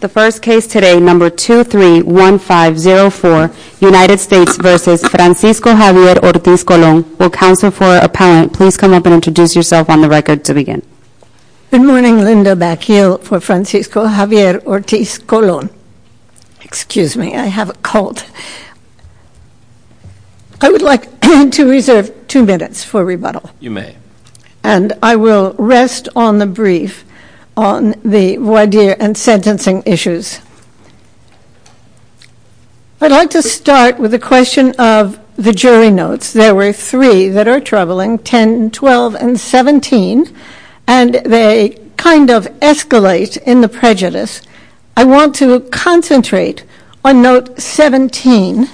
The first case today, number 231504, United States v. Francisco Javier Ortiz-Colon. Will counsel for appellant please come up and introduce yourself on the record to begin. Good morning, Linda Backhill for Francisco Javier Ortiz-Colon. Excuse me, I have a cold. I would like to reserve two minutes for rebuttal. You may. And I will rest on the brief on the voir dire and sentencing issues. I'd like to start with a question of the jury notes. There were three that are troubling, 10, 12, and 17, and they kind of escalate in the prejudice. I want to concentrate on note 17,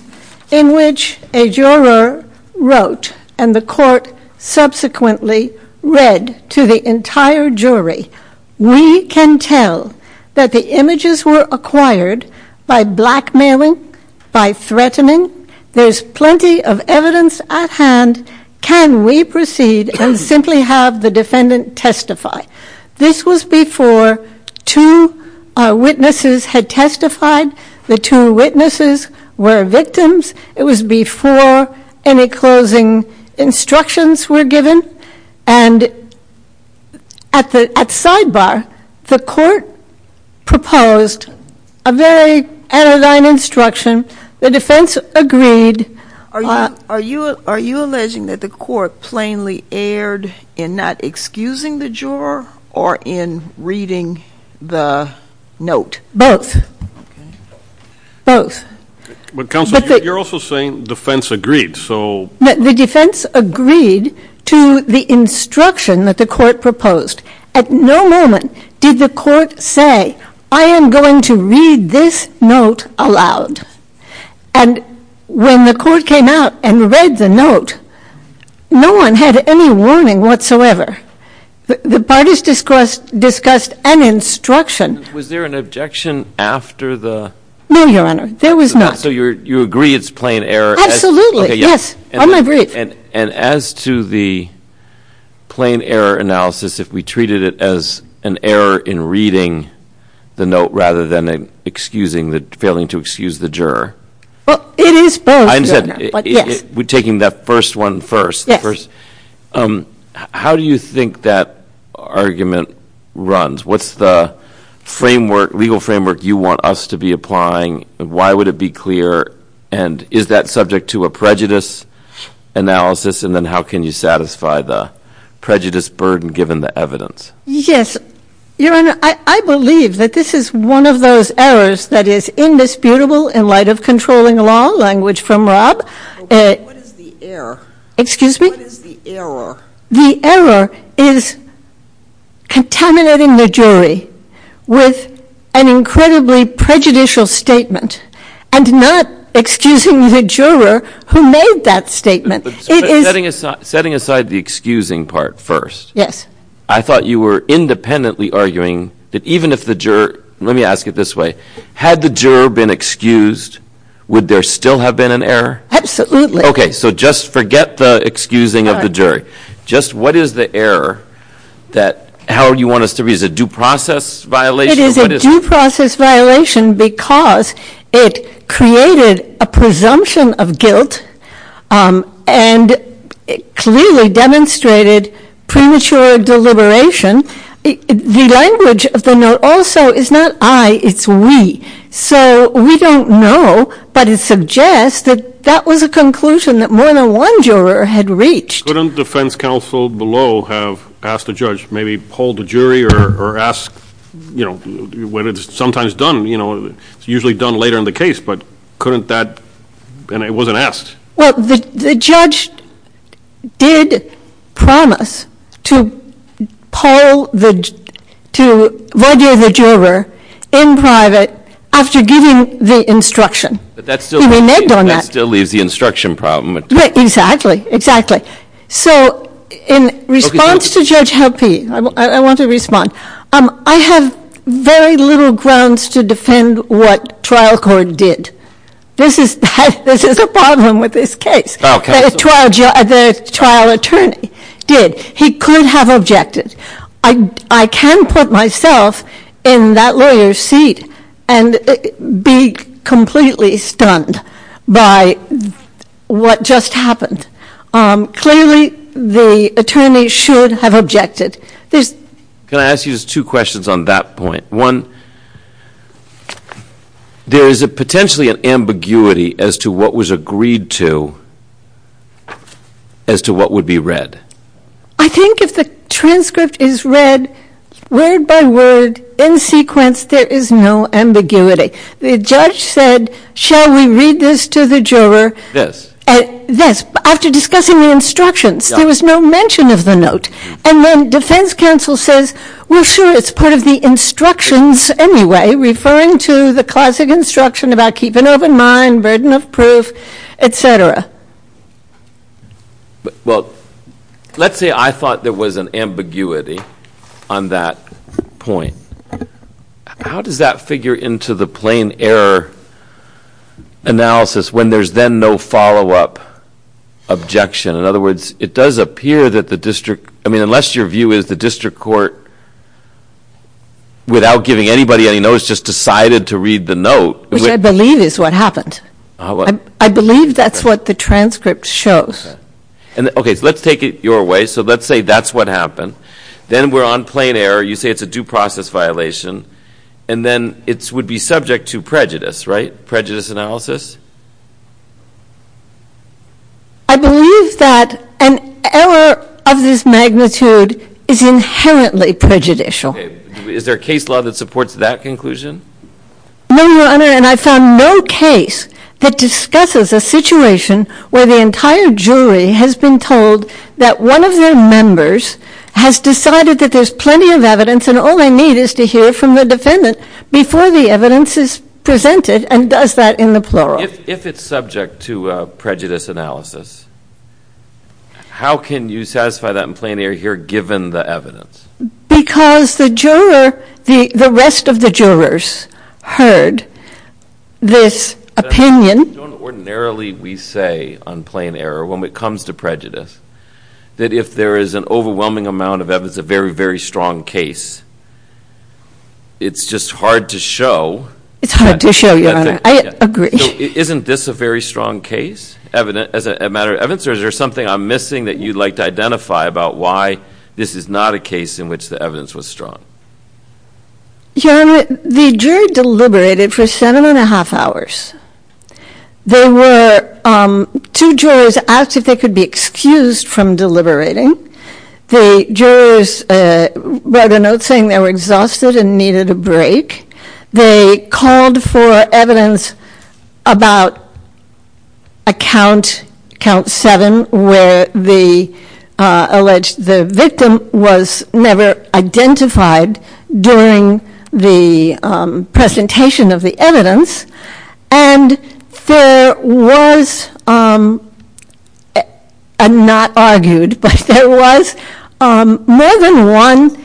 in which a juror wrote and the court subsequently read to the entire jury, we can tell that the images were acquired by blackmailing, by threatening. There's plenty of evidence at hand. Can we proceed and simply have the defendant testify? This was before two witnesses had testified. The two witnesses were victims. It was before any closing instructions were given. And at sidebar, the court proposed a very anodyne instruction. The defense agreed. Are you alleging that the court plainly erred in not excusing the juror or in reading the note? Both. Both. But counsel, you're also saying defense agreed, so. The defense agreed to the instruction that the court proposed. At no moment did the court say, I am going to read this note aloud. And when the court came out and read the note, no one had any warning whatsoever. The parties discussed an instruction. Was there an objection after the? No, Your Honor, there was not. So you agree it's plain error? Absolutely, yes, I'm agree. And as to the plain error analysis, if we treated it as an error in reading the note rather than failing to excuse the juror. Well, it is both, Your Honor, but yes. We're taking that first one first. Yes. How do you think that argument runs? What's the legal framework you want us to be applying? Why would it be clear? And is that subject to a prejudice analysis? And then how can you satisfy the prejudice burden given the evidence? Yes, Your Honor, I believe that this is one of those errors that is indisputable in light of controlling law, language from Rob. Okay, what is the error? Excuse me? What is the error? The error is contaminating the jury with an incredibly prejudicial statement. And not excusing the juror who made that statement. It is- Setting aside the excusing part first. Yes. I thought you were independently arguing that even if the juror, let me ask it this way. Had the juror been excused, would there still have been an error? Absolutely. Okay, so just forget the excusing of the jury. Just what is the error that, how do you want us to read it? Is it due process violation? It is a due process violation because it created a presumption of guilt. And clearly demonstrated premature deliberation. The language of the note also is not I, it's we. So we don't know, but it suggests that that was a conclusion that more than one juror had reached. Couldn't defense counsel below have asked the judge, maybe poll the jury or ask when it's sometimes done, it's usually done later in the case. But couldn't that, and it wasn't asked. Well, the judge did promise to poll the, to review the juror in private after giving the instruction. But that still- He remained on that. That still leaves the instruction problem. Right, exactly, exactly. So in response to Judge Heppi, I want to respond. I have very little grounds to defend what trial court did. This is a problem with this case. The trial attorney did. He could have objected. I can put myself in that lawyer's seat and be completely stunned by what just happened. Clearly, the attorney should have objected. There's- Can I ask you just two questions on that point? One, there is a potentially an ambiguity as to what was agreed to, as to what would be read. I think if the transcript is read word by word in sequence, there is no ambiguity. The judge said, shall we read this to the juror? This. This, after discussing the instructions. There was no mention of the note. And then defense counsel says, we're sure it's part of the instructions anyway, referring to the classic instruction about keeping an open mind, burden of proof, etc. Well, let's say I thought there was an ambiguity on that point. How does that figure into the plain error analysis when there's then no follow up objection? In other words, it does appear that the district, I mean, unless your view is the district court, without giving anybody any notice, just decided to read the note. Which I believe is what happened. I believe that's what the transcript shows. Okay, so let's take it your way. So let's say that's what happened. Then we're on plain error. You say it's a due process violation. And then it would be subject to prejudice, right? Prejudice analysis? I believe that an error of this magnitude is inherently prejudicial. Okay, is there a case law that supports that conclusion? No, your honor, and I found no case that discusses a situation where the entire jury has been told that one of their members has decided that there's plenty of evidence. And all they need is to hear from the defendant before the evidence is presented and does that in the plural. If it's subject to prejudice analysis, how can you satisfy that in plain error here given the evidence? Because the rest of the jurors heard this opinion. Don't ordinarily we say on plain error, when it comes to prejudice, that if there is an overwhelming amount of evidence, a very, very strong case, it's just hard to show. It's hard to show, your honor, I agree. Isn't this a very strong case, as a matter of evidence? Or is there something I'm missing that you'd like to identify about why this is not a case in which the evidence was strong? Your honor, the jury deliberated for seven and a half hours. There were two jurors asked if they could be excused from deliberating. The jurors wrote a note saying they were exhausted and needed a break. They called for evidence about a count, count seven, where the alleged victim was never identified during the presentation of the evidence. And there was, I'm not argued, but there was more than one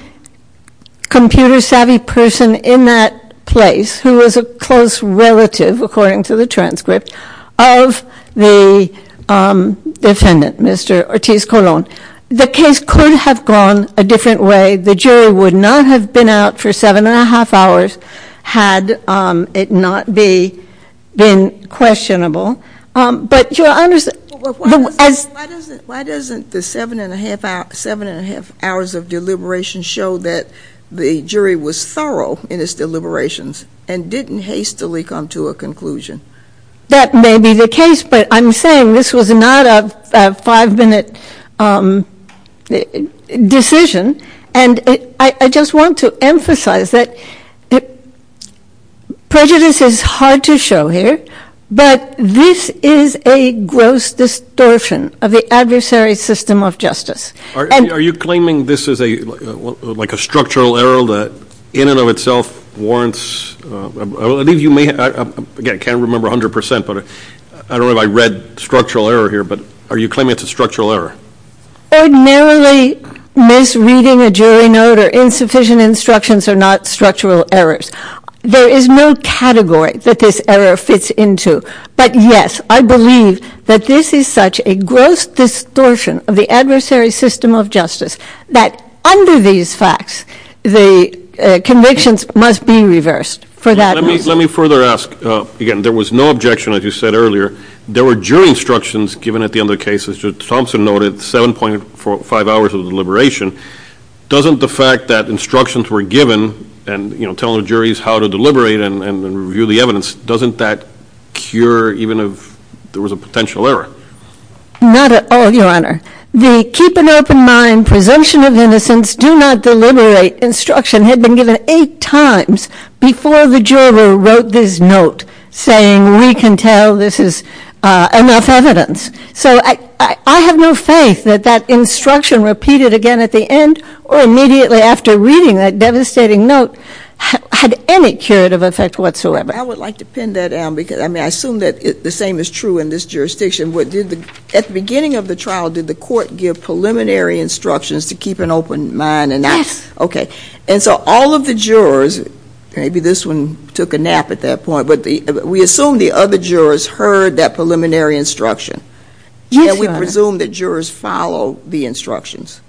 computer savvy person in that place, who was a close relative, according to the transcript, of the defendant, Mr. Ortiz Colon. The case could have gone a different way. The jury would not have been out for seven and a half hours had it not been questionable. But your honor's- Why doesn't the seven and a half hours of deliberation show that the jury was thorough in its deliberations and didn't hastily come to a conclusion? That may be the case, but I'm saying this was not a five minute decision. And I just want to emphasize that prejudice is hard to show here. But this is a gross distortion of the adversary's system of justice. And- Are you claiming this is like a structural error that in and of itself warrants, I believe you may, again, I can't remember 100%, but I don't know if I read structural error here, but are you claiming it's a structural error? Ordinarily, misreading a jury note or insufficient instructions are not structural errors. There is no category that this error fits into. But yes, I believe that this is such a gross distortion of the adversary's system of justice that under these facts, the convictions must be reversed for that reason. Let me further ask, again, there was no objection, as you said earlier. There were jury instructions given at the end of the case, as Judge Thompson noted, 7.5 hours of deliberation. Doesn't the fact that instructions were given and telling the juries how to deliberate and review the evidence, doesn't that cure even if there was a potential error? Not at all, Your Honor. The keep an open mind, presumption of innocence, do not deliberate instruction had been given eight times before the juror wrote this note saying we can tell this is enough evidence. So I have no faith that that instruction repeated again at the end or immediately after reading that devastating note had any curative effect whatsoever. I would like to pin that down because I assume that the same is true in this jurisdiction. At the beginning of the trial, did the court give preliminary instructions to keep an open mind? Yes. Okay, and so all of the jurors, maybe this one took a nap at that point, but we assume the other jurors heard that preliminary instruction. Yes, Your Honor. And we presume that jurors follow the instructions.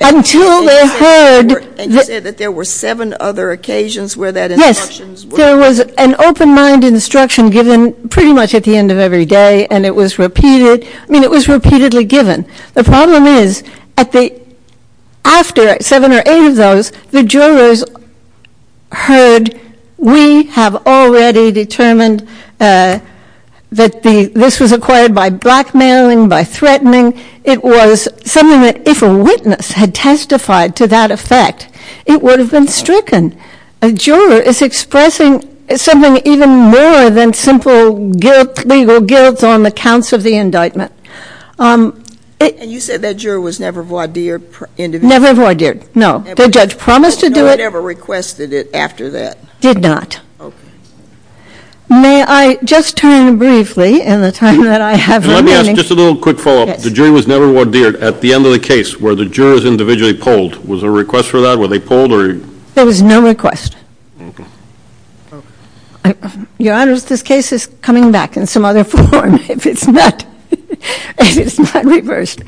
Until they heard- And you said that there were seven other occasions where that instructions were- Yes, there was an open mind instruction given pretty much at the end of every day, and it was repeated. I mean, it was repeatedly given. The problem is, after seven or eight of those, the jurors heard we have already determined that this was acquired by blackmailing, by threatening. It was something that if a witness had testified to that effect, it would have been stricken. A juror is expressing something even more than simple legal guilt on the counts of the indictment. And you said that juror was never voir dire? Never voir dire, no. The judge promised to do it? No one ever requested it after that. Did not. Okay. May I just turn briefly, in the time that I have remaining- Let me ask just a little quick follow up. The jury was never voir dire at the end of the case where the jurors individually polled. Was there a request for that? Were they polled or- There was no request. Your Honors, this case is coming back in some other form if it's not reversed.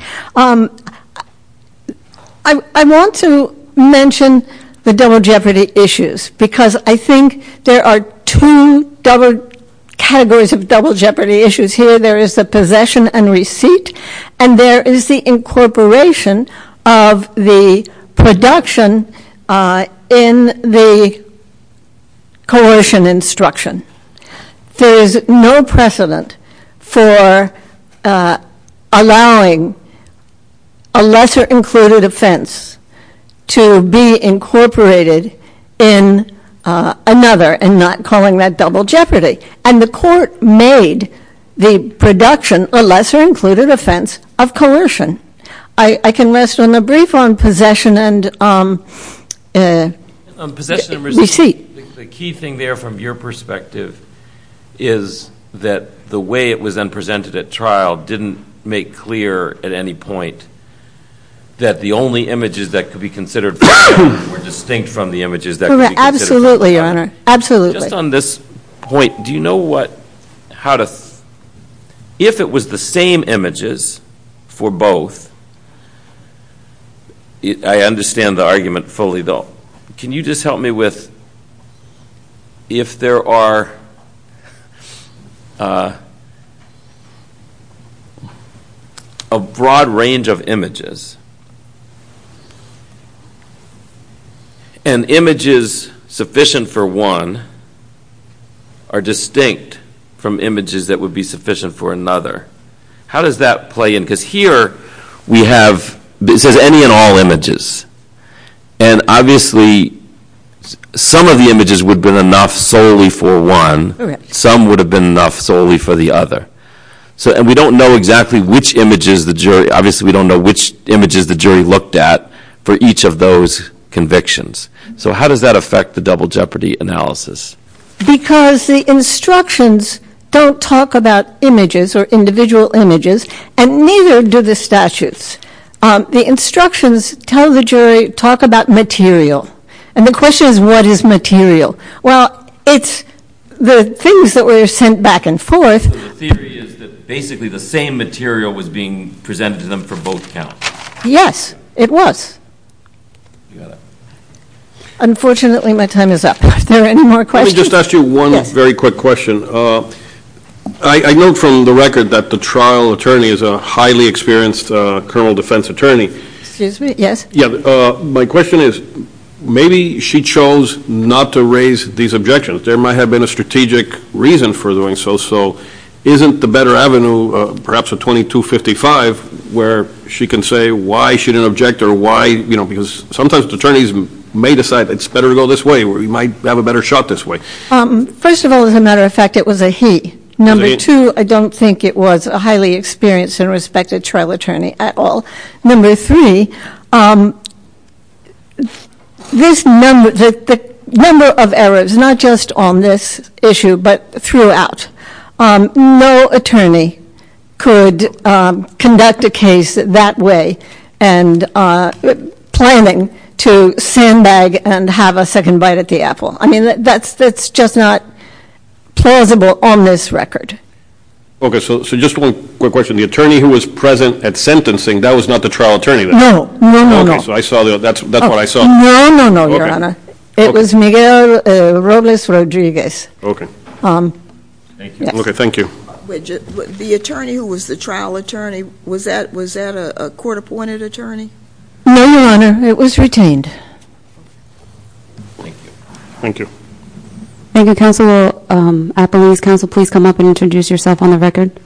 I want to mention the double jeopardy issues, because I think there are two double categories of double jeopardy issues here. There is the possession and receipt. And there is the incorporation of the production in the coercion instruction. There is no precedent for allowing a lesser included offense to be incorporated in another, and not calling that double jeopardy. And the court made the production a lesser included offense of coercion. I can rest on the brief on possession and receipt. The key thing there from your perspective is that the way it was then presented at trial didn't make clear at any point that the only images that could be considered distinct from the images that could be considered- Absolutely, Your Honor. Absolutely. Just on this point, do you know what, how to, if it was the same images for both, I understand the argument fully though. Can you just help me with, if there are a broad range of images, and images sufficient for one are distinct from images that would be sufficient for another. How does that play in, because here we have, it says any and all images. And obviously, some of the images would have been enough solely for one. Some would have been enough solely for the other. So, and we don't know exactly which images the jury, obviously we don't know which images the jury looked at for each of those convictions. So how does that affect the double jeopardy analysis? Because the instructions don't talk about images or individual images, and neither do the statutes. The instructions tell the jury, talk about material. And the question is, what is material? Well, it's the things that were sent back and forth. So the theory is that basically the same material was being presented to them for both counts. Yes, it was. You got it. Unfortunately, my time is up. Are there any more questions? Let me just ask you one very quick question. I note from the record that the trial attorney is a highly experienced criminal defense attorney. Excuse me, yes? Yeah, my question is, maybe she chose not to raise these objections. There might have been a strategic reason for doing so. So isn't the better avenue perhaps a 2255 where she can say why she didn't object or because sometimes attorneys may decide it's better to go this way or we might have a better shot this way. First of all, as a matter of fact, it was a he. Number two, I don't think it was a highly experienced and respected trial attorney at all. Number three, the number of errors, not just on this issue, but throughout. No attorney could conduct a case that way. And planning to sandbag and have a second bite at the apple. I mean, that's just not plausible on this record. Okay, so just one quick question. The attorney who was present at sentencing, that was not the trial attorney then? No, no, no, no. Okay, so I saw that's what I saw. No, no, no, your honor. It was Miguel Robles Rodriguez. Okay. Thank you. Okay, thank you. The attorney who was the trial attorney, was that a court appointed attorney? No, your honor. It was retained. Thank you. Thank you. Thank you, Counselor Aperolis. Counsel, please come up and introduce yourself on the record.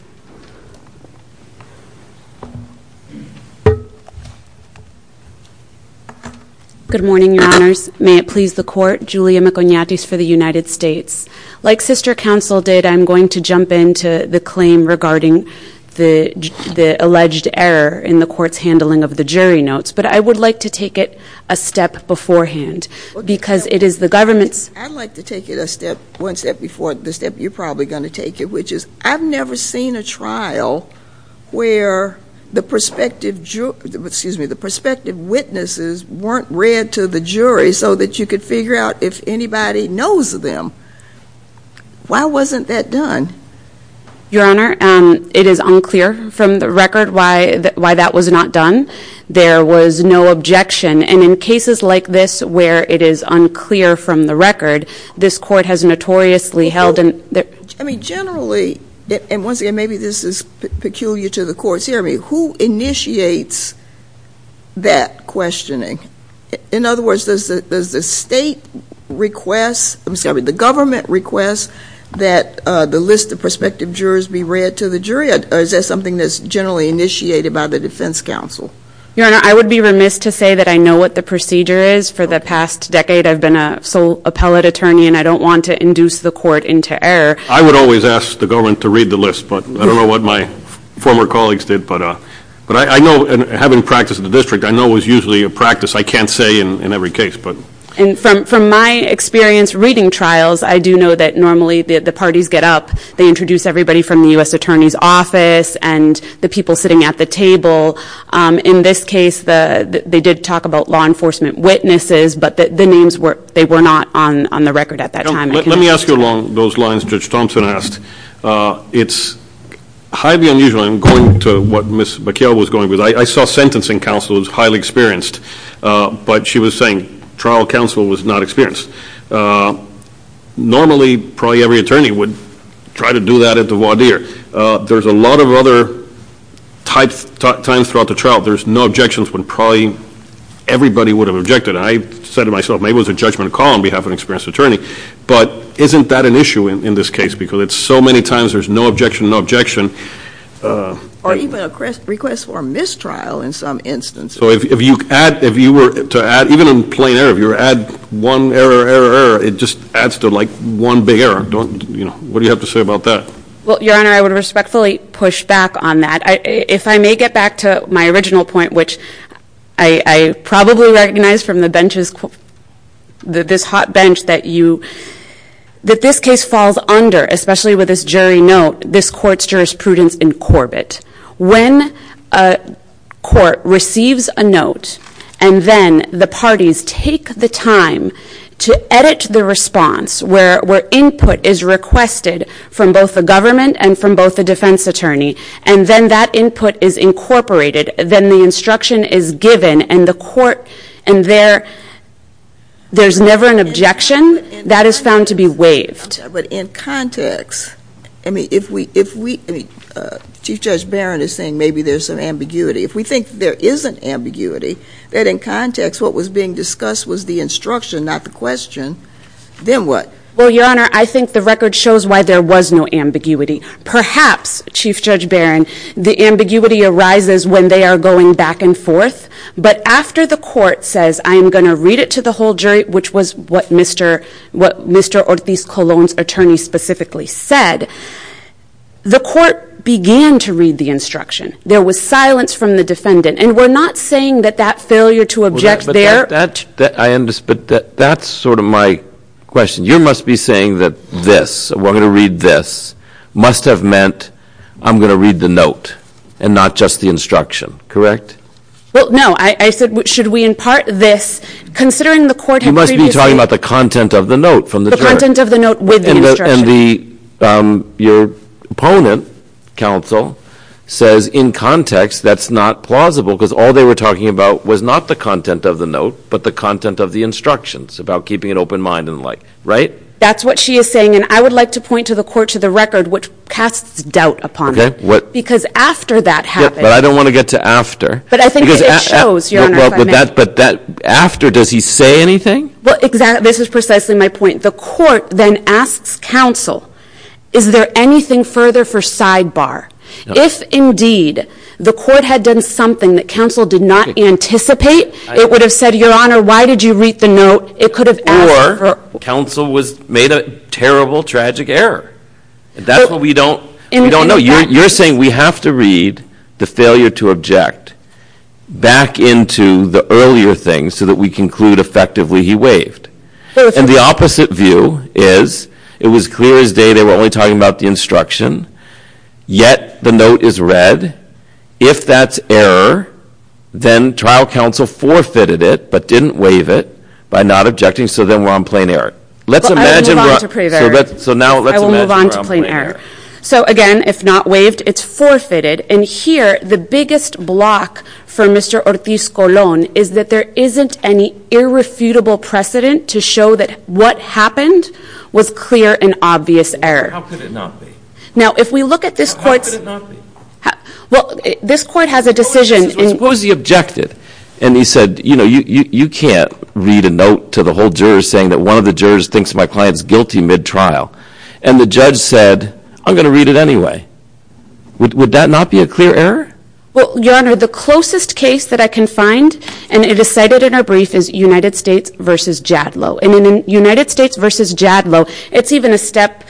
Good morning, your honors. May it please the court. Julia Maconiatis for the United States. Like Sister Counsel did, I'm going to jump into the claim regarding the alleged error in the court's handling of the jury notes. But I would like to take it a step beforehand, because it is the government's- I'd like to take it a step, one step before, the step you're probably going to take it, which is, I've never seen a trial where the prospective, excuse me, the prospective witnesses weren't read to the jury so that you could figure out if anybody knows them. Why wasn't that done? Your honor, it is unclear from the record why that was not done. There was no objection. And in cases like this, where it is unclear from the record, this court has notoriously held- I mean, generally, and once again, maybe this is peculiar to the court's hearing, who initiates that questioning? In other words, does the state request, I'm sorry, the government request that the list of prospective jurors be read to the jury? Or is that something that's generally initiated by the defense counsel? Your honor, I would be remiss to say that I know what the procedure is. For the past decade, I've been a sole appellate attorney, and I don't want to induce the court into error. I would always ask the government to read the list, but I don't know what my former colleagues did. But I know, and having practiced in the district, I know it's usually a practice I can't say in every case, but- And from my experience reading trials, I do know that normally the parties get up. They introduce everybody from the US Attorney's Office and the people sitting at the table. In this case, they did talk about law enforcement witnesses, but the names, they were not on the record at that time. Let me ask you along those lines Judge Thompson asked. It's highly unusual, and I'm going to what Ms. McKeown was going with. I saw sentencing counsel was highly experienced, but she was saying trial counsel was not experienced. Normally, probably every attorney would try to do that at the voir dire. There's a lot of other times throughout the trial, there's no objections when probably everybody would have objected. I said to myself, maybe it was a judgment call on behalf of an experienced attorney. But isn't that an issue in this case? Because it's so many times there's no objection, no objection. Or even a request for mistrial in some instances. So if you were to add, even in plain error, if you were to add one error, error, error, it just adds to one big error, what do you have to say about that? Well, Your Honor, I would respectfully push back on that. If I may get back to my original point, which I probably recognize from the benches, this hot bench that you, that this case falls under, especially with this jury note, this court's jurisprudence in Corbett. When a court receives a note and then the parties take the time to edit the response, where input is requested from both the government and from both the defense attorney. And then that input is incorporated, then the instruction is given, and the court, and there's never an objection, that is found to be waived. But in context, I mean, if we, I mean, Chief Judge Barron is saying maybe there's some ambiguity. If we think there is an ambiguity, that in context what was being discussed was the instruction, not the question, then what? Well, Your Honor, I think the record shows why there was no ambiguity. Perhaps, Chief Judge Barron, the ambiguity arises when they are going back and forth. But after the court says, I am going to read it to the whole jury, which was what Mr. Ortiz-Colón's attorney specifically said, the court began to read the instruction. There was silence from the defendant. And we're not saying that that failure to object there- But that's sort of my question. You must be saying that this, we're going to read this, must have meant I'm going to read the note and not just the instruction, correct? Well, no, I said, should we impart this, considering the court had previously- You must be talking about the content of the note from the jury. The content of the note with the instruction. And the, your opponent, counsel, says in context that's not plausible, because all they were talking about was not the content of the note, but the content of the instructions about keeping an open mind and like, right? That's what she is saying. And I would like to point to the court, to the record, which casts doubt upon it. Because after that happened- But I don't want to get to after. But I think it shows, Your Honor, if I may. But that after, does he say anything? Well, exactly. This is precisely my point. The court then asks counsel, is there anything further for sidebar? If, indeed, the court had done something that counsel did not anticipate, it would have said, Your Honor, why did you read the note? It could have- Or, counsel was made a terrible, tragic error. That's what we don't know. You're saying we have to read the failure to object back into the earlier things so that we conclude effectively he waived. And the opposite view is, it was clear as day they were only talking about the instruction, yet the note is read. If that's error, then trial counsel forfeited it, but didn't waive it by not objecting. So then we're on plain error. Let's imagine- I will move on to plain error. So now let's imagine we're on plain error. So again, if not waived, it's forfeited. And here, the biggest block for Mr. Ortiz-Colon is that there isn't any irrefutable precedent to show that what happened was clear and obvious error. How could it not be? Now, if we look at this court's- How could it not be? Well, this court has a decision in- What was the objective? And he said, you know, you can't read a note to the whole jurors saying that one of the jurors thinks my client's guilty mid-trial. And the judge said, I'm going to read it anyway. Would that not be a clear error? Well, Your Honor, the closest case that I can find, and it is cited in our brief, is United States v. Jadlow. And in United States v. Jadlow, it's even a step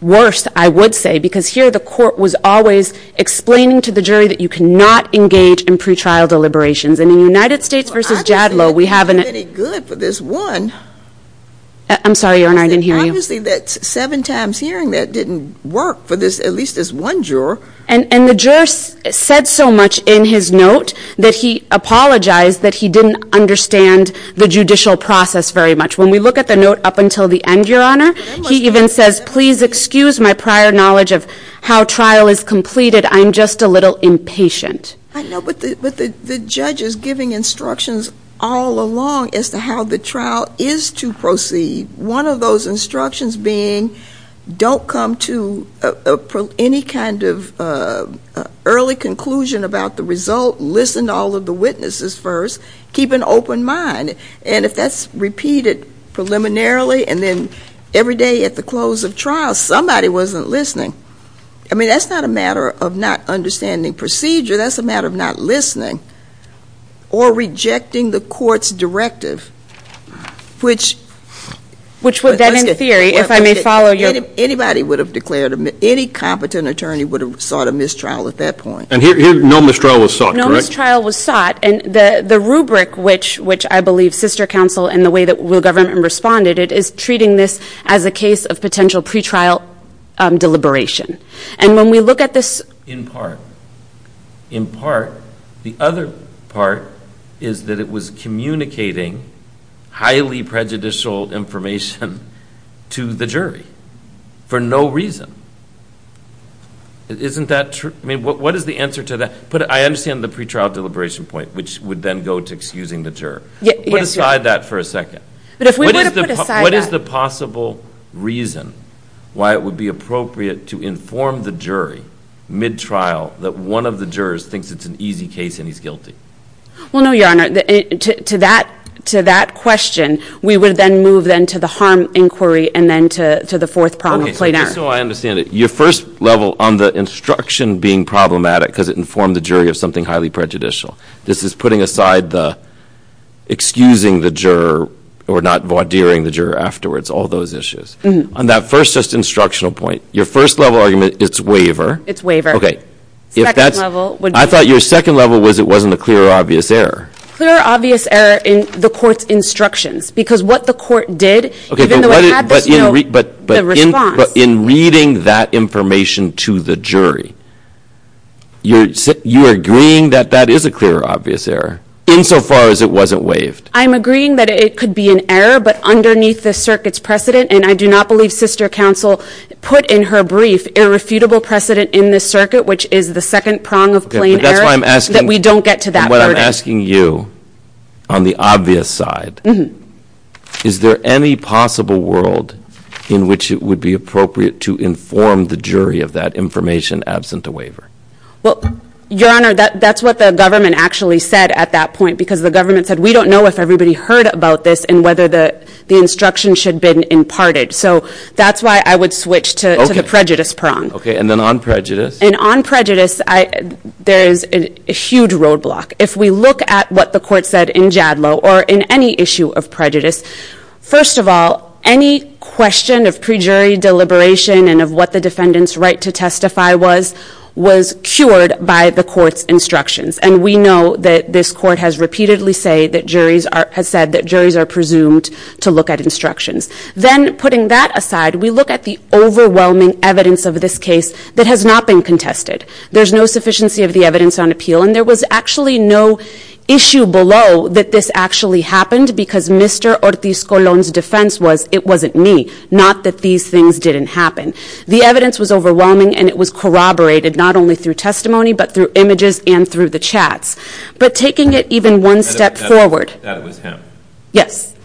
worse, I would say, because here the court was always explaining to the jury that you cannot engage in pretrial deliberations. And in United States v. Jadlow, we have an- Well, I don't think it's any good for this one. I'm sorry, Your Honor, I didn't hear you. Obviously, that seven times hearing that didn't work for this, at least this one juror. And the juror said so much in his note that he apologized that he didn't understand the judicial process very much. When we look at the note up until the end, Your Honor, he even says, please excuse my prior knowledge of how trial is completed. I'm just a little impatient. I know, but the judge is giving instructions all along as to how the trial is to proceed. One of those instructions being, don't come to any kind of early conclusion about the result. Listen to all of the witnesses first. Keep an open mind. And if that's repeated preliminarily and then every day at the close of trial, somebody wasn't listening. I mean, that's not a matter of not understanding procedure. That's a matter of not listening or rejecting the court's directive. Which would then in theory, if I may follow your- Anybody would have declared, any competent attorney would have sought a mistrial at that point. And here, no mistrial was sought, correct? No mistrial was sought. And the rubric which I believe sister counsel and the way that the government responded, it is treating this as a case of potential pretrial deliberation. And when we look at this- In part. In part, the other part is that it was communicating highly prejudicial information to the jury for no reason. Isn't that true? I mean, what is the answer to that? But I understand the pretrial deliberation point, which would then go to excusing the juror. Put aside that for a second. What is the possible reason why it would be appropriate to inform the jury mid-trial that one of the jurors thinks it's an easy case and he's guilty? Well, no, your honor. To that question, we would then move then to the harm inquiry and then to the fourth prong of plain error. Okay, so just so I understand it. Your first level on the instruction being problematic because it informed the jury of something highly prejudicial. This is putting aside the excusing the juror or not voir direing the juror afterwards, all those issues. On that first just instructional point, your first level argument, it's waiver. It's waiver. Second level- I thought your second level was it wasn't a clear or obvious error. Clear or obvious error in the court's instructions. Because what the court did, even though it had the response. But in reading that information to the jury, you're agreeing that that is a clear or obvious error, insofar as it wasn't waived. I'm agreeing that it could be an error, but underneath the circuit's precedent. And I do not believe Sister Counsel put in her brief irrefutable precedent in this circuit, which is the second prong of plain error. That's why I'm asking- That we don't get to that. What I'm asking you, on the obvious side, is there any possible world in which it would be appropriate to inform the jury of that information absent a waiver? Well, Your Honor, that's what the government actually said at that point. Because the government said, we don't know if everybody heard about this and whether the instruction should have been imparted. So that's why I would switch to the prejudice prong. Okay, and then on prejudice? And on prejudice, there is a huge roadblock. If we look at what the court said in Jadlow, or in any issue of prejudice. First of all, any question of pre-jury deliberation and of what the defendant's right to testify was, was cured by the court's instructions. And we know that this court has repeatedly said that juries are presumed to look at instructions. Then, putting that aside, we look at the overwhelming evidence of this case that has not been contested. There's no sufficiency of the evidence on appeal. And there was actually no issue below that this actually happened, because Mr. Ortiz Colon's defense was, it wasn't me, not that these things didn't happen. The evidence was overwhelming and it was corroborated, not only through testimony, but through images and through the chats. But taking it even one step forward. That was him. Yes,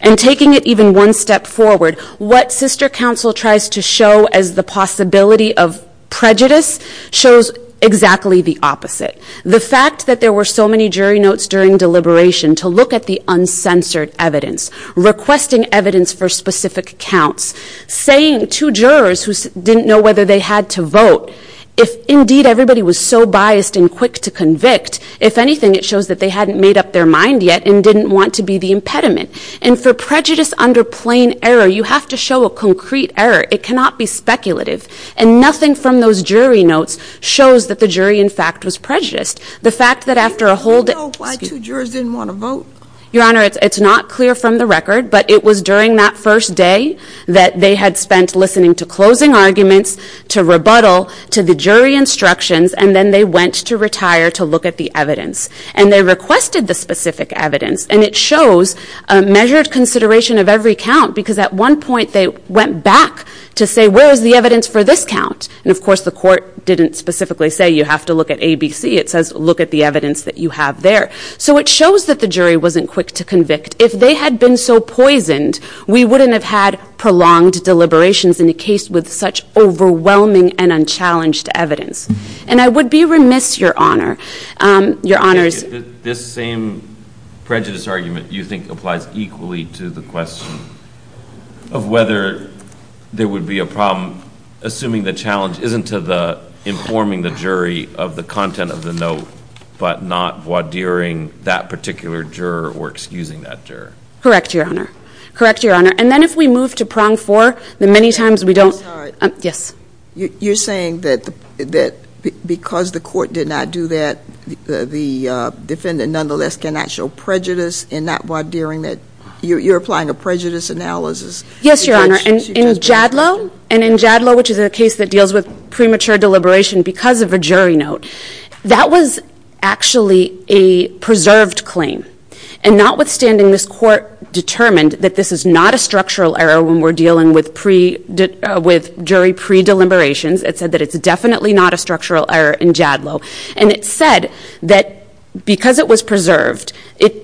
and taking it even one step forward. What sister counsel tries to show as the possibility of prejudice shows exactly the opposite. The fact that there were so many jury notes during deliberation to look at the uncensored evidence. Requesting evidence for specific accounts. Saying to jurors who didn't know whether they had to vote. If indeed everybody was so biased and quick to convict, if anything it shows that they hadn't made up their mind yet and didn't want to be the impediment. And for prejudice under plain error, you have to show a concrete error. It cannot be speculative. And nothing from those jury notes shows that the jury in fact was prejudiced. The fact that after a whole day- Why two jurors didn't want to vote? Your Honor, it's not clear from the record. But it was during that first day that they had spent listening to closing arguments, to rebuttal, to the jury instructions. And then they went to retire to look at the evidence. And they requested the specific evidence. And it shows a measured consideration of every count. Because at one point they went back to say, where is the evidence for this count? And of course the court didn't specifically say you have to look at ABC. It says look at the evidence that you have there. So it shows that the jury wasn't quick to convict. If they had been so poisoned, we wouldn't have had prolonged deliberations in a case with such overwhelming and unchallenged evidence. And I would be remiss, Your Honor, Your Honor's- This same prejudice argument you think applies equally to the question of whether there would be a problem. Assuming the challenge isn't to the informing the jury of the content of the note, but not what during that particular juror or excusing that juror. Correct, Your Honor. Correct, Your Honor. And then if we move to prong four, the many times we don't- Yes. You're saying that because the court did not do that, the defendant nonetheless cannot show prejudice and not while during that. You're applying a prejudice analysis. Yes, Your Honor. And in Jadlow, and in Jadlow, which is a case that deals with premature deliberation because of a jury note. That was actually a preserved claim. And notwithstanding, this court determined that this is not a structural error when we're dealing with jury pre-deliberations. It said that it's definitely not a structural error in Jadlow. And it said that because it was preserved,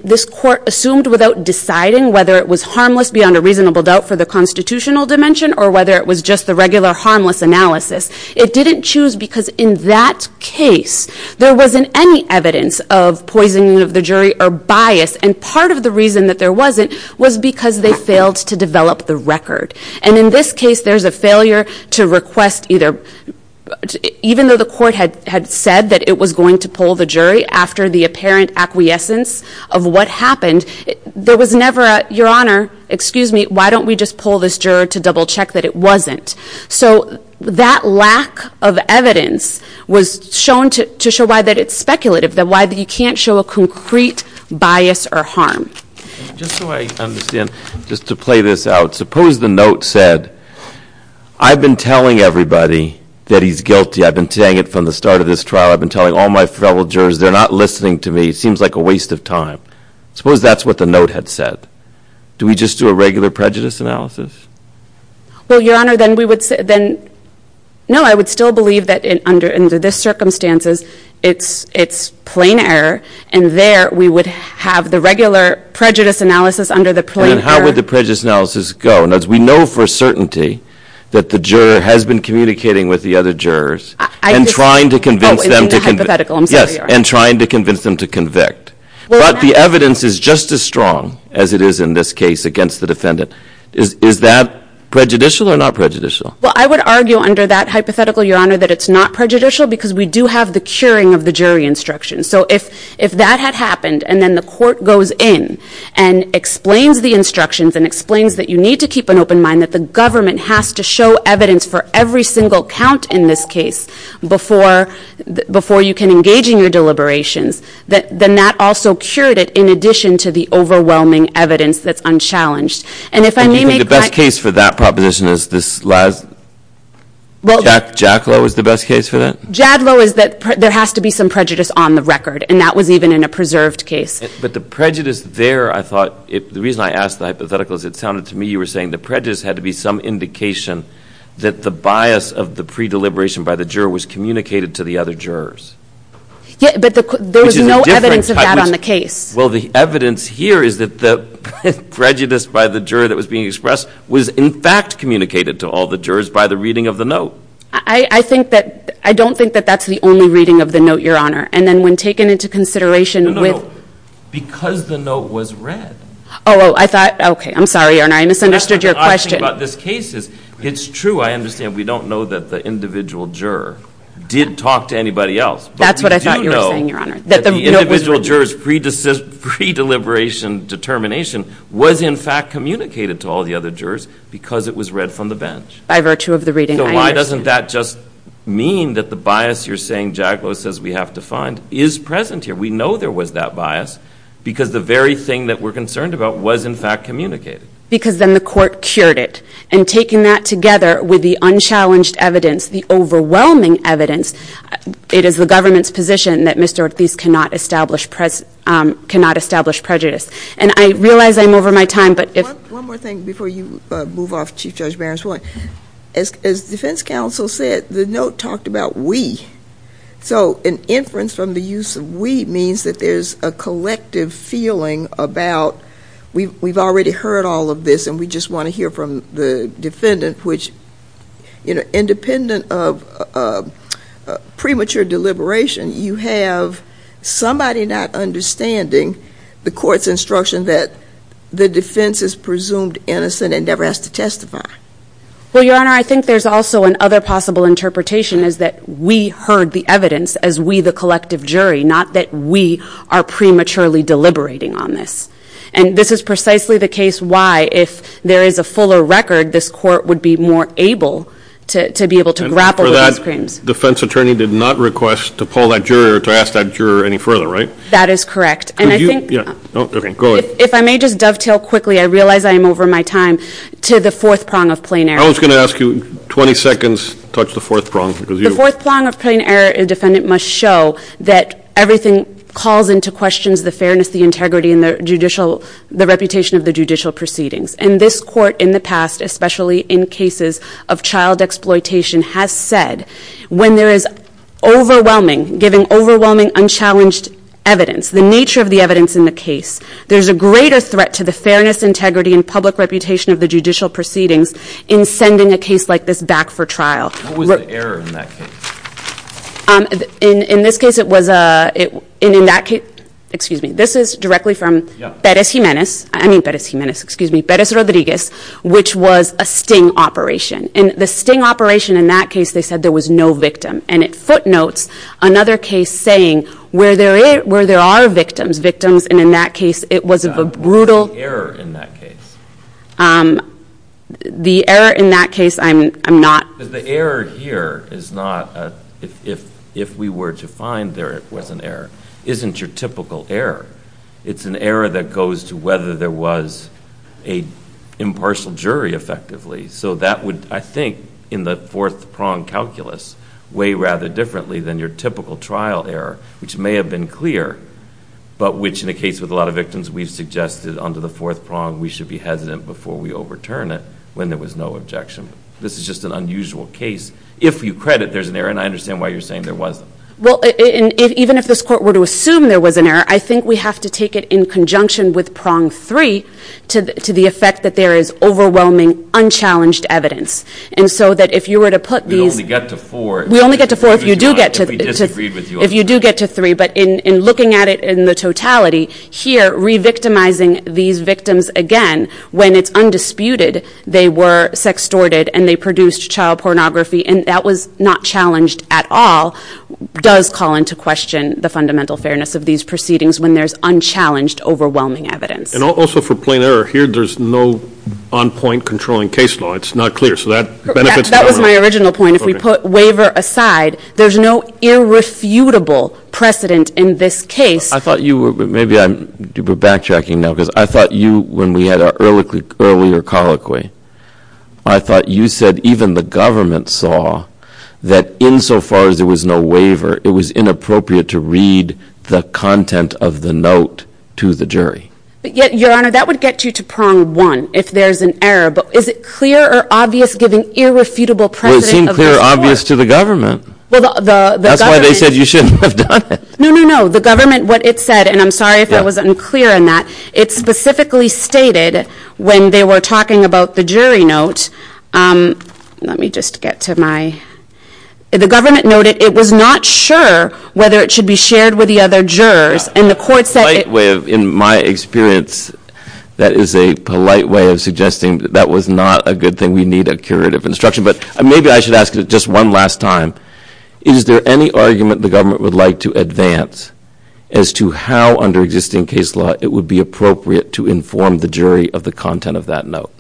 this court assumed without deciding whether it was harmless beyond a reasonable doubt for the constitutional dimension or whether it was just the regular harmless analysis. It didn't choose because in that case, there wasn't any evidence of poisoning of the jury or bias. And part of the reason that there wasn't was because they failed to develop the record. And in this case, there's a failure to request either, even though the court had said that it was going to pull the jury after the apparent acquiescence of what happened. There was never a, Your Honor, excuse me, why don't we just pull this juror to double check that it wasn't? So that lack of evidence was shown to show why that it's speculative, that why you can't show a concrete bias or harm. Just so I understand, just to play this out, suppose the note said, I've been telling everybody that he's guilty. I've been saying it from the start of this trial. I've been telling all my fellow jurors. They're not listening to me. It seems like a waste of time. Suppose that's what the note had said. Do we just do a regular prejudice analysis? Well, Your Honor, then we would say, then, no, I would still believe that under this circumstances, it's plain error. And there, we would have the regular prejudice analysis under the plain error. And how would the prejudice analysis go? We know for a certainty that the juror has been communicating with the other jurors and trying to convince them to convict. Oh, in the hypothetical. I'm sorry, Your Honor. Yes, and trying to convince them to convict. But the evidence is just as strong as it is in this case against the defendant. Is that prejudicial or not prejudicial? Well, I would argue under that hypothetical, Your Honor, that it's not prejudicial because we do have the curing of the jury instructions. So if that had happened and then the court goes in and explains the instructions and explains that you need to keep an open mind, that the government has to show evidence for every single count in this case before you can engage in your deliberations, then that also cured it in addition to the overwhelming evidence that's unchallenged. And if I may make that – The best case for that proposition is this last – Well – JADLOW is the best case for that? JADLOW is that there has to be some prejudice on the record. And that was even in a preserved case. But the prejudice there, I thought – the reason I asked the hypothetical is it sounded to me you were saying the prejudice had to be some indication that the bias of the pre-deliberation by the juror was communicated to the other jurors. Yeah, but there was no evidence of that on the case. Well, the evidence here is that the prejudice by the juror that was being expressed was in fact communicated to all the jurors by the reading of the note. I think that – I don't think that that's the only reading of the note, Your Honor. And then when taken into consideration with – No, no, no. Because the note was read. Oh, I thought – okay. I'm sorry, Your Honor. I misunderstood your question. It's true, I understand, we don't know that the individual juror did talk to anybody else. That's what I thought you were saying, Your Honor. But we do know that the individual juror's pre-deliberation determination was in fact communicated to all the other jurors because it was read from the bench. By virtue of the reading, I understand. So why doesn't that just mean that the bias you're saying JADLOW says we have to find is present here? We know there was that bias because the very thing that we're concerned about was in fact communicated. Because then the court cured it. And taking that together with the unchallenged evidence, the overwhelming evidence, it is the government's position that Mr. Ortiz cannot establish prejudice. And I realize I'm over my time, but if – One more thing before you move off Chief Judge Barron's point. As defense counsel said, the note talked about we. So an inference from the use of we means that there's a collective feeling about we've already heard all of this and we just want to hear from the defendant, which independent of premature deliberation, you have somebody not understanding the court's instruction that the defense is presumed innocent and never has to testify. Well, Your Honor, I think there's also another possible interpretation is that we heard the evidence as we the collective jury, not that we are prematurely deliberating on this. And this is precisely the case why, if there is a fuller record, this court would be more able to be able to grapple with these claims. And for that, defense attorney did not request to poll that juror or to ask that juror any further, right? That is correct. Could you – yeah, okay, go ahead. If I may just dovetail quickly, I realize I am over my time, to the fourth prong of plain error. I was going to ask you, 20 seconds, touch the fourth prong because you – The fourth prong of plain error, a defendant must show that everything calls into question the fairness, the integrity, and the reputation of the judicial proceedings. And this court in the past, especially in cases of child exploitation, has said when there is overwhelming, giving overwhelming, unchallenged evidence, the nature of the evidence in the case, there's a greater threat to the fairness, integrity, and public reputation of the judicial proceedings in sending a case like this back for trial. What was the error in that case? In this case, it was a – in that case – excuse me, this is directly from Perez Jimenez, I mean Perez Jimenez, excuse me, Perez Rodriguez, which was a sting operation. And the sting operation in that case, they said there was no victim. And it footnotes another case saying where there are victims, victims, and in that case, it was a brutal – What was the error in that case? The error in that case, I'm not – Because the error here is not – if we were to find there was an error, isn't your typical error. It's an error that goes to whether there was an impartial jury effectively. So that would, I think, in the fourth prong calculus, way rather differently than your typical trial error, which may have been clear, but which in a case with a lot of victims, we've suggested under the fourth prong, we should be hesitant before we overturn it when there was no objection. This is just an unusual case. If you credit, there's an error, and I understand why you're saying there wasn't. Well, even if this court were to assume there was an error, I think we have to take it in conjunction with prong three to the effect that there is overwhelming, unchallenged evidence. And so that if you were to put these – We only get to four. We only get to four if you do get to – If we disagreed with you. If you do get to three. But in looking at it in the totality, here, re-victimizing these victims again when it's undisputed they were sextorted and they produced child pornography and that was not challenged at all does call into question the fundamental fairness of these proceedings when there's unchallenged, overwhelming evidence. And also for plain error, here there's no on-point controlling case law. It's not clear. So that benefits – That was my original point. If we put waiver aside, there's no irrefutable precedent in this case. I thought you were – maybe I'm backtracking now because I thought you, when we had our earlier colloquy, I thought you said even the government saw that insofar as there was no waiver, it was inappropriate to read the content of the note to the jury. Your Honor, that would get you to prong one if there's an error. But is it clear or obvious giving irrefutable precedent – Well, it seemed clear or obvious to the government. That's why they said you shouldn't have done it. No, no, no. The government, what it said, and I'm sorry if I was unclear in that, it specifically stated when they were talking about the jury note – let me just get to my – the government noted it was not sure whether it should be shared with the other jurors. And the court said – In my experience, that is a polite way of suggesting that that was not a good thing. We need a curative instruction. But maybe I should ask it just one last time. Is there any argument the government would like to advance as to how under existing case law it would be appropriate to inform the jury of the content of that note?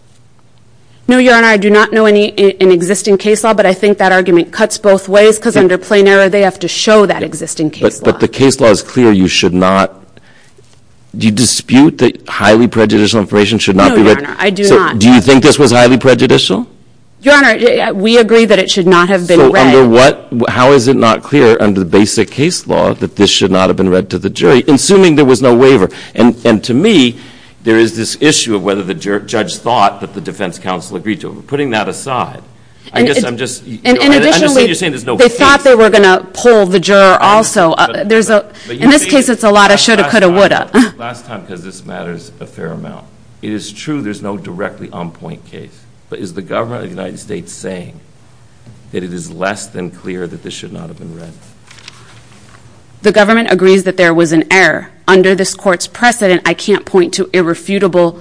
No, Your Honor, I do not know any in existing case law, but I think that argument cuts both ways because under plain error, they have to show that existing case law. But the case law is clear. You should not – do you dispute that highly prejudicial information should not be read? No, Your Honor, I do not. Do you think this was highly prejudicial? Your Honor, we agree that it should not have been read. So under what – how is it not clear under the basic case law that this should not have been read to the jury, assuming there was no waiver? And to me, there is this issue of whether the judge thought that the defense counsel agreed to it. Putting that aside, I guess I'm just – And additionally, they thought they were going to pull the juror also. In this case, it's a lot of shoulda, coulda, woulda. Last time, because this matters a fair amount, it is true there's no directly on-point case. But is the government of the United States saying that it is less than clear that this should not have been read? The government agrees that there was an error. Under this Court's precedent, I can't point to irrefutable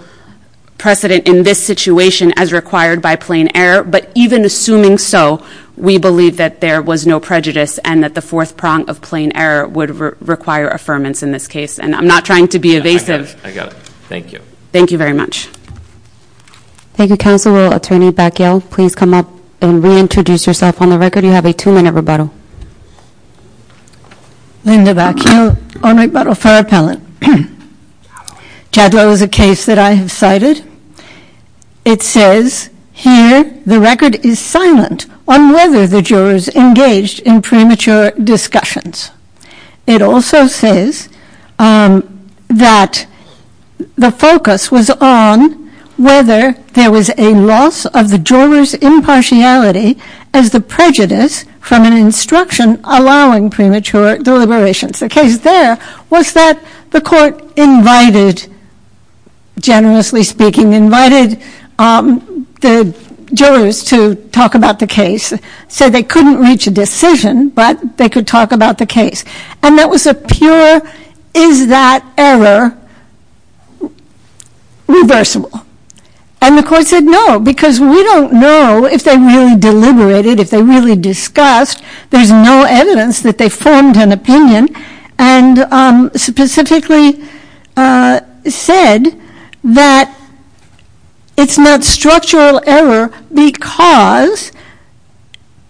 precedent in this situation as required by plain error. But even assuming so, we believe that there was no prejudice and that the fourth prong of plain error would require affirmance in this case. And I'm not trying to be evasive. I got it. I got it. Thank you. Thank you very much. Thank you, Counselor. Attorney Bacchial, please come up and reintroduce yourself on the record. You have a two-minute rebuttal. Linda Bacchial. Honorary rebuttal for appellant. Jadlow is a case that I have cited. It says here the record is silent on whether the jurors engaged in premature discussions. It also says that the focus was on whether there was a loss of the jurors' impartiality as the prejudice from an instruction allowing premature deliberations. The case there was that the Court invited, generously speaking, invited the jurors to talk about the case. So they couldn't reach a decision, but they could talk about the case. And that was a pure, is that error reversible? And the Court said no, because we don't know if they really deliberated, if they really discussed. There's no evidence that they formed an opinion and specifically said that it's not structural error because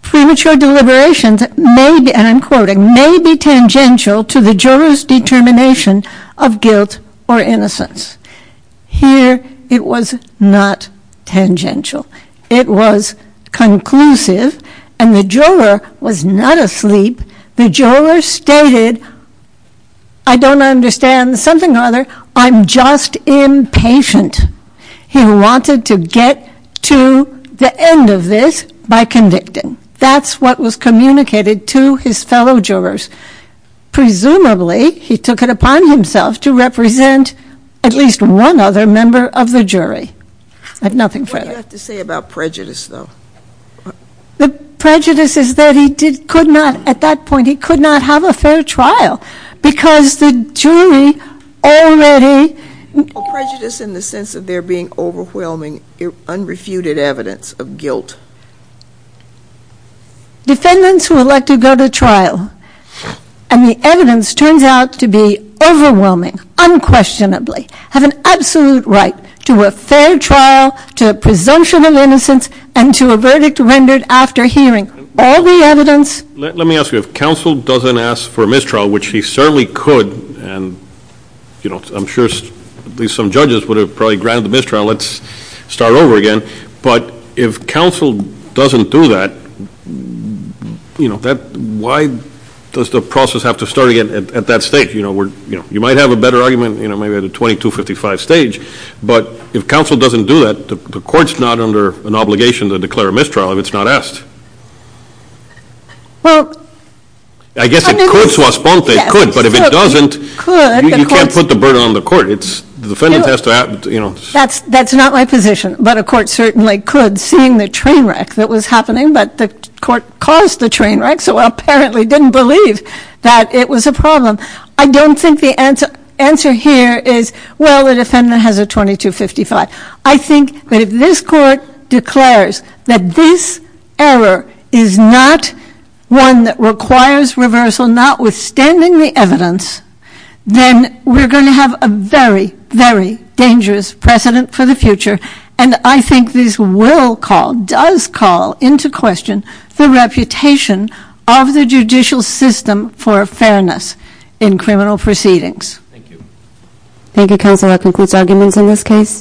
premature deliberations may be, and I'm quoting, may be tangential to the jurors' determination of guilt or innocence. Here it was not tangential. It was conclusive, and the juror was not asleep. The juror stated, I don't understand something or other. I'm just impatient. He wanted to get to the end of this by convicting. That's what was communicated to his fellow jurors. Presumably, he took it upon himself to represent at least one other member of the jury. I have nothing further. What do you have to say about prejudice, though? The prejudice is that he could not, at that point, he could not have a fair trial because the jury already Prejudice in the sense of there being overwhelming unrefuted evidence of guilt. Defendants who elect to go to trial, and the evidence turns out to be overwhelming, unquestionably, have an absolute right to a fair trial, to a presumption of innocence, and to a verdict rendered after hearing. All the evidence Let me ask you, if counsel doesn't ask for a mistrial, which he certainly could, and I'm sure at least some judges would have probably granted the mistrial. Let's start over again. But if counsel doesn't do that, why does the process have to start again at that stage? You might have a better argument maybe at a 2255 stage, but if counsel doesn't do that, the court's not under an obligation to declare a mistrial if it's not asked. I guess it could, but if it doesn't, you can't put the burden on the court. The defendant has to have That's not my position, but a court certainly could, seeing the train wreck that was happening, but the court caused the train wreck, so apparently didn't believe that it was a problem. I don't think the answer here is, well, the defendant has a 2255. I think that if this court declares that this error is not one that requires reversal, notwithstanding the evidence, then we're going to have a very, very dangerous precedent for the future, and I think this will call, does call into question, the reputation of the judicial system for fairness in criminal proceedings. Thank you, counsel. That concludes arguments in this case.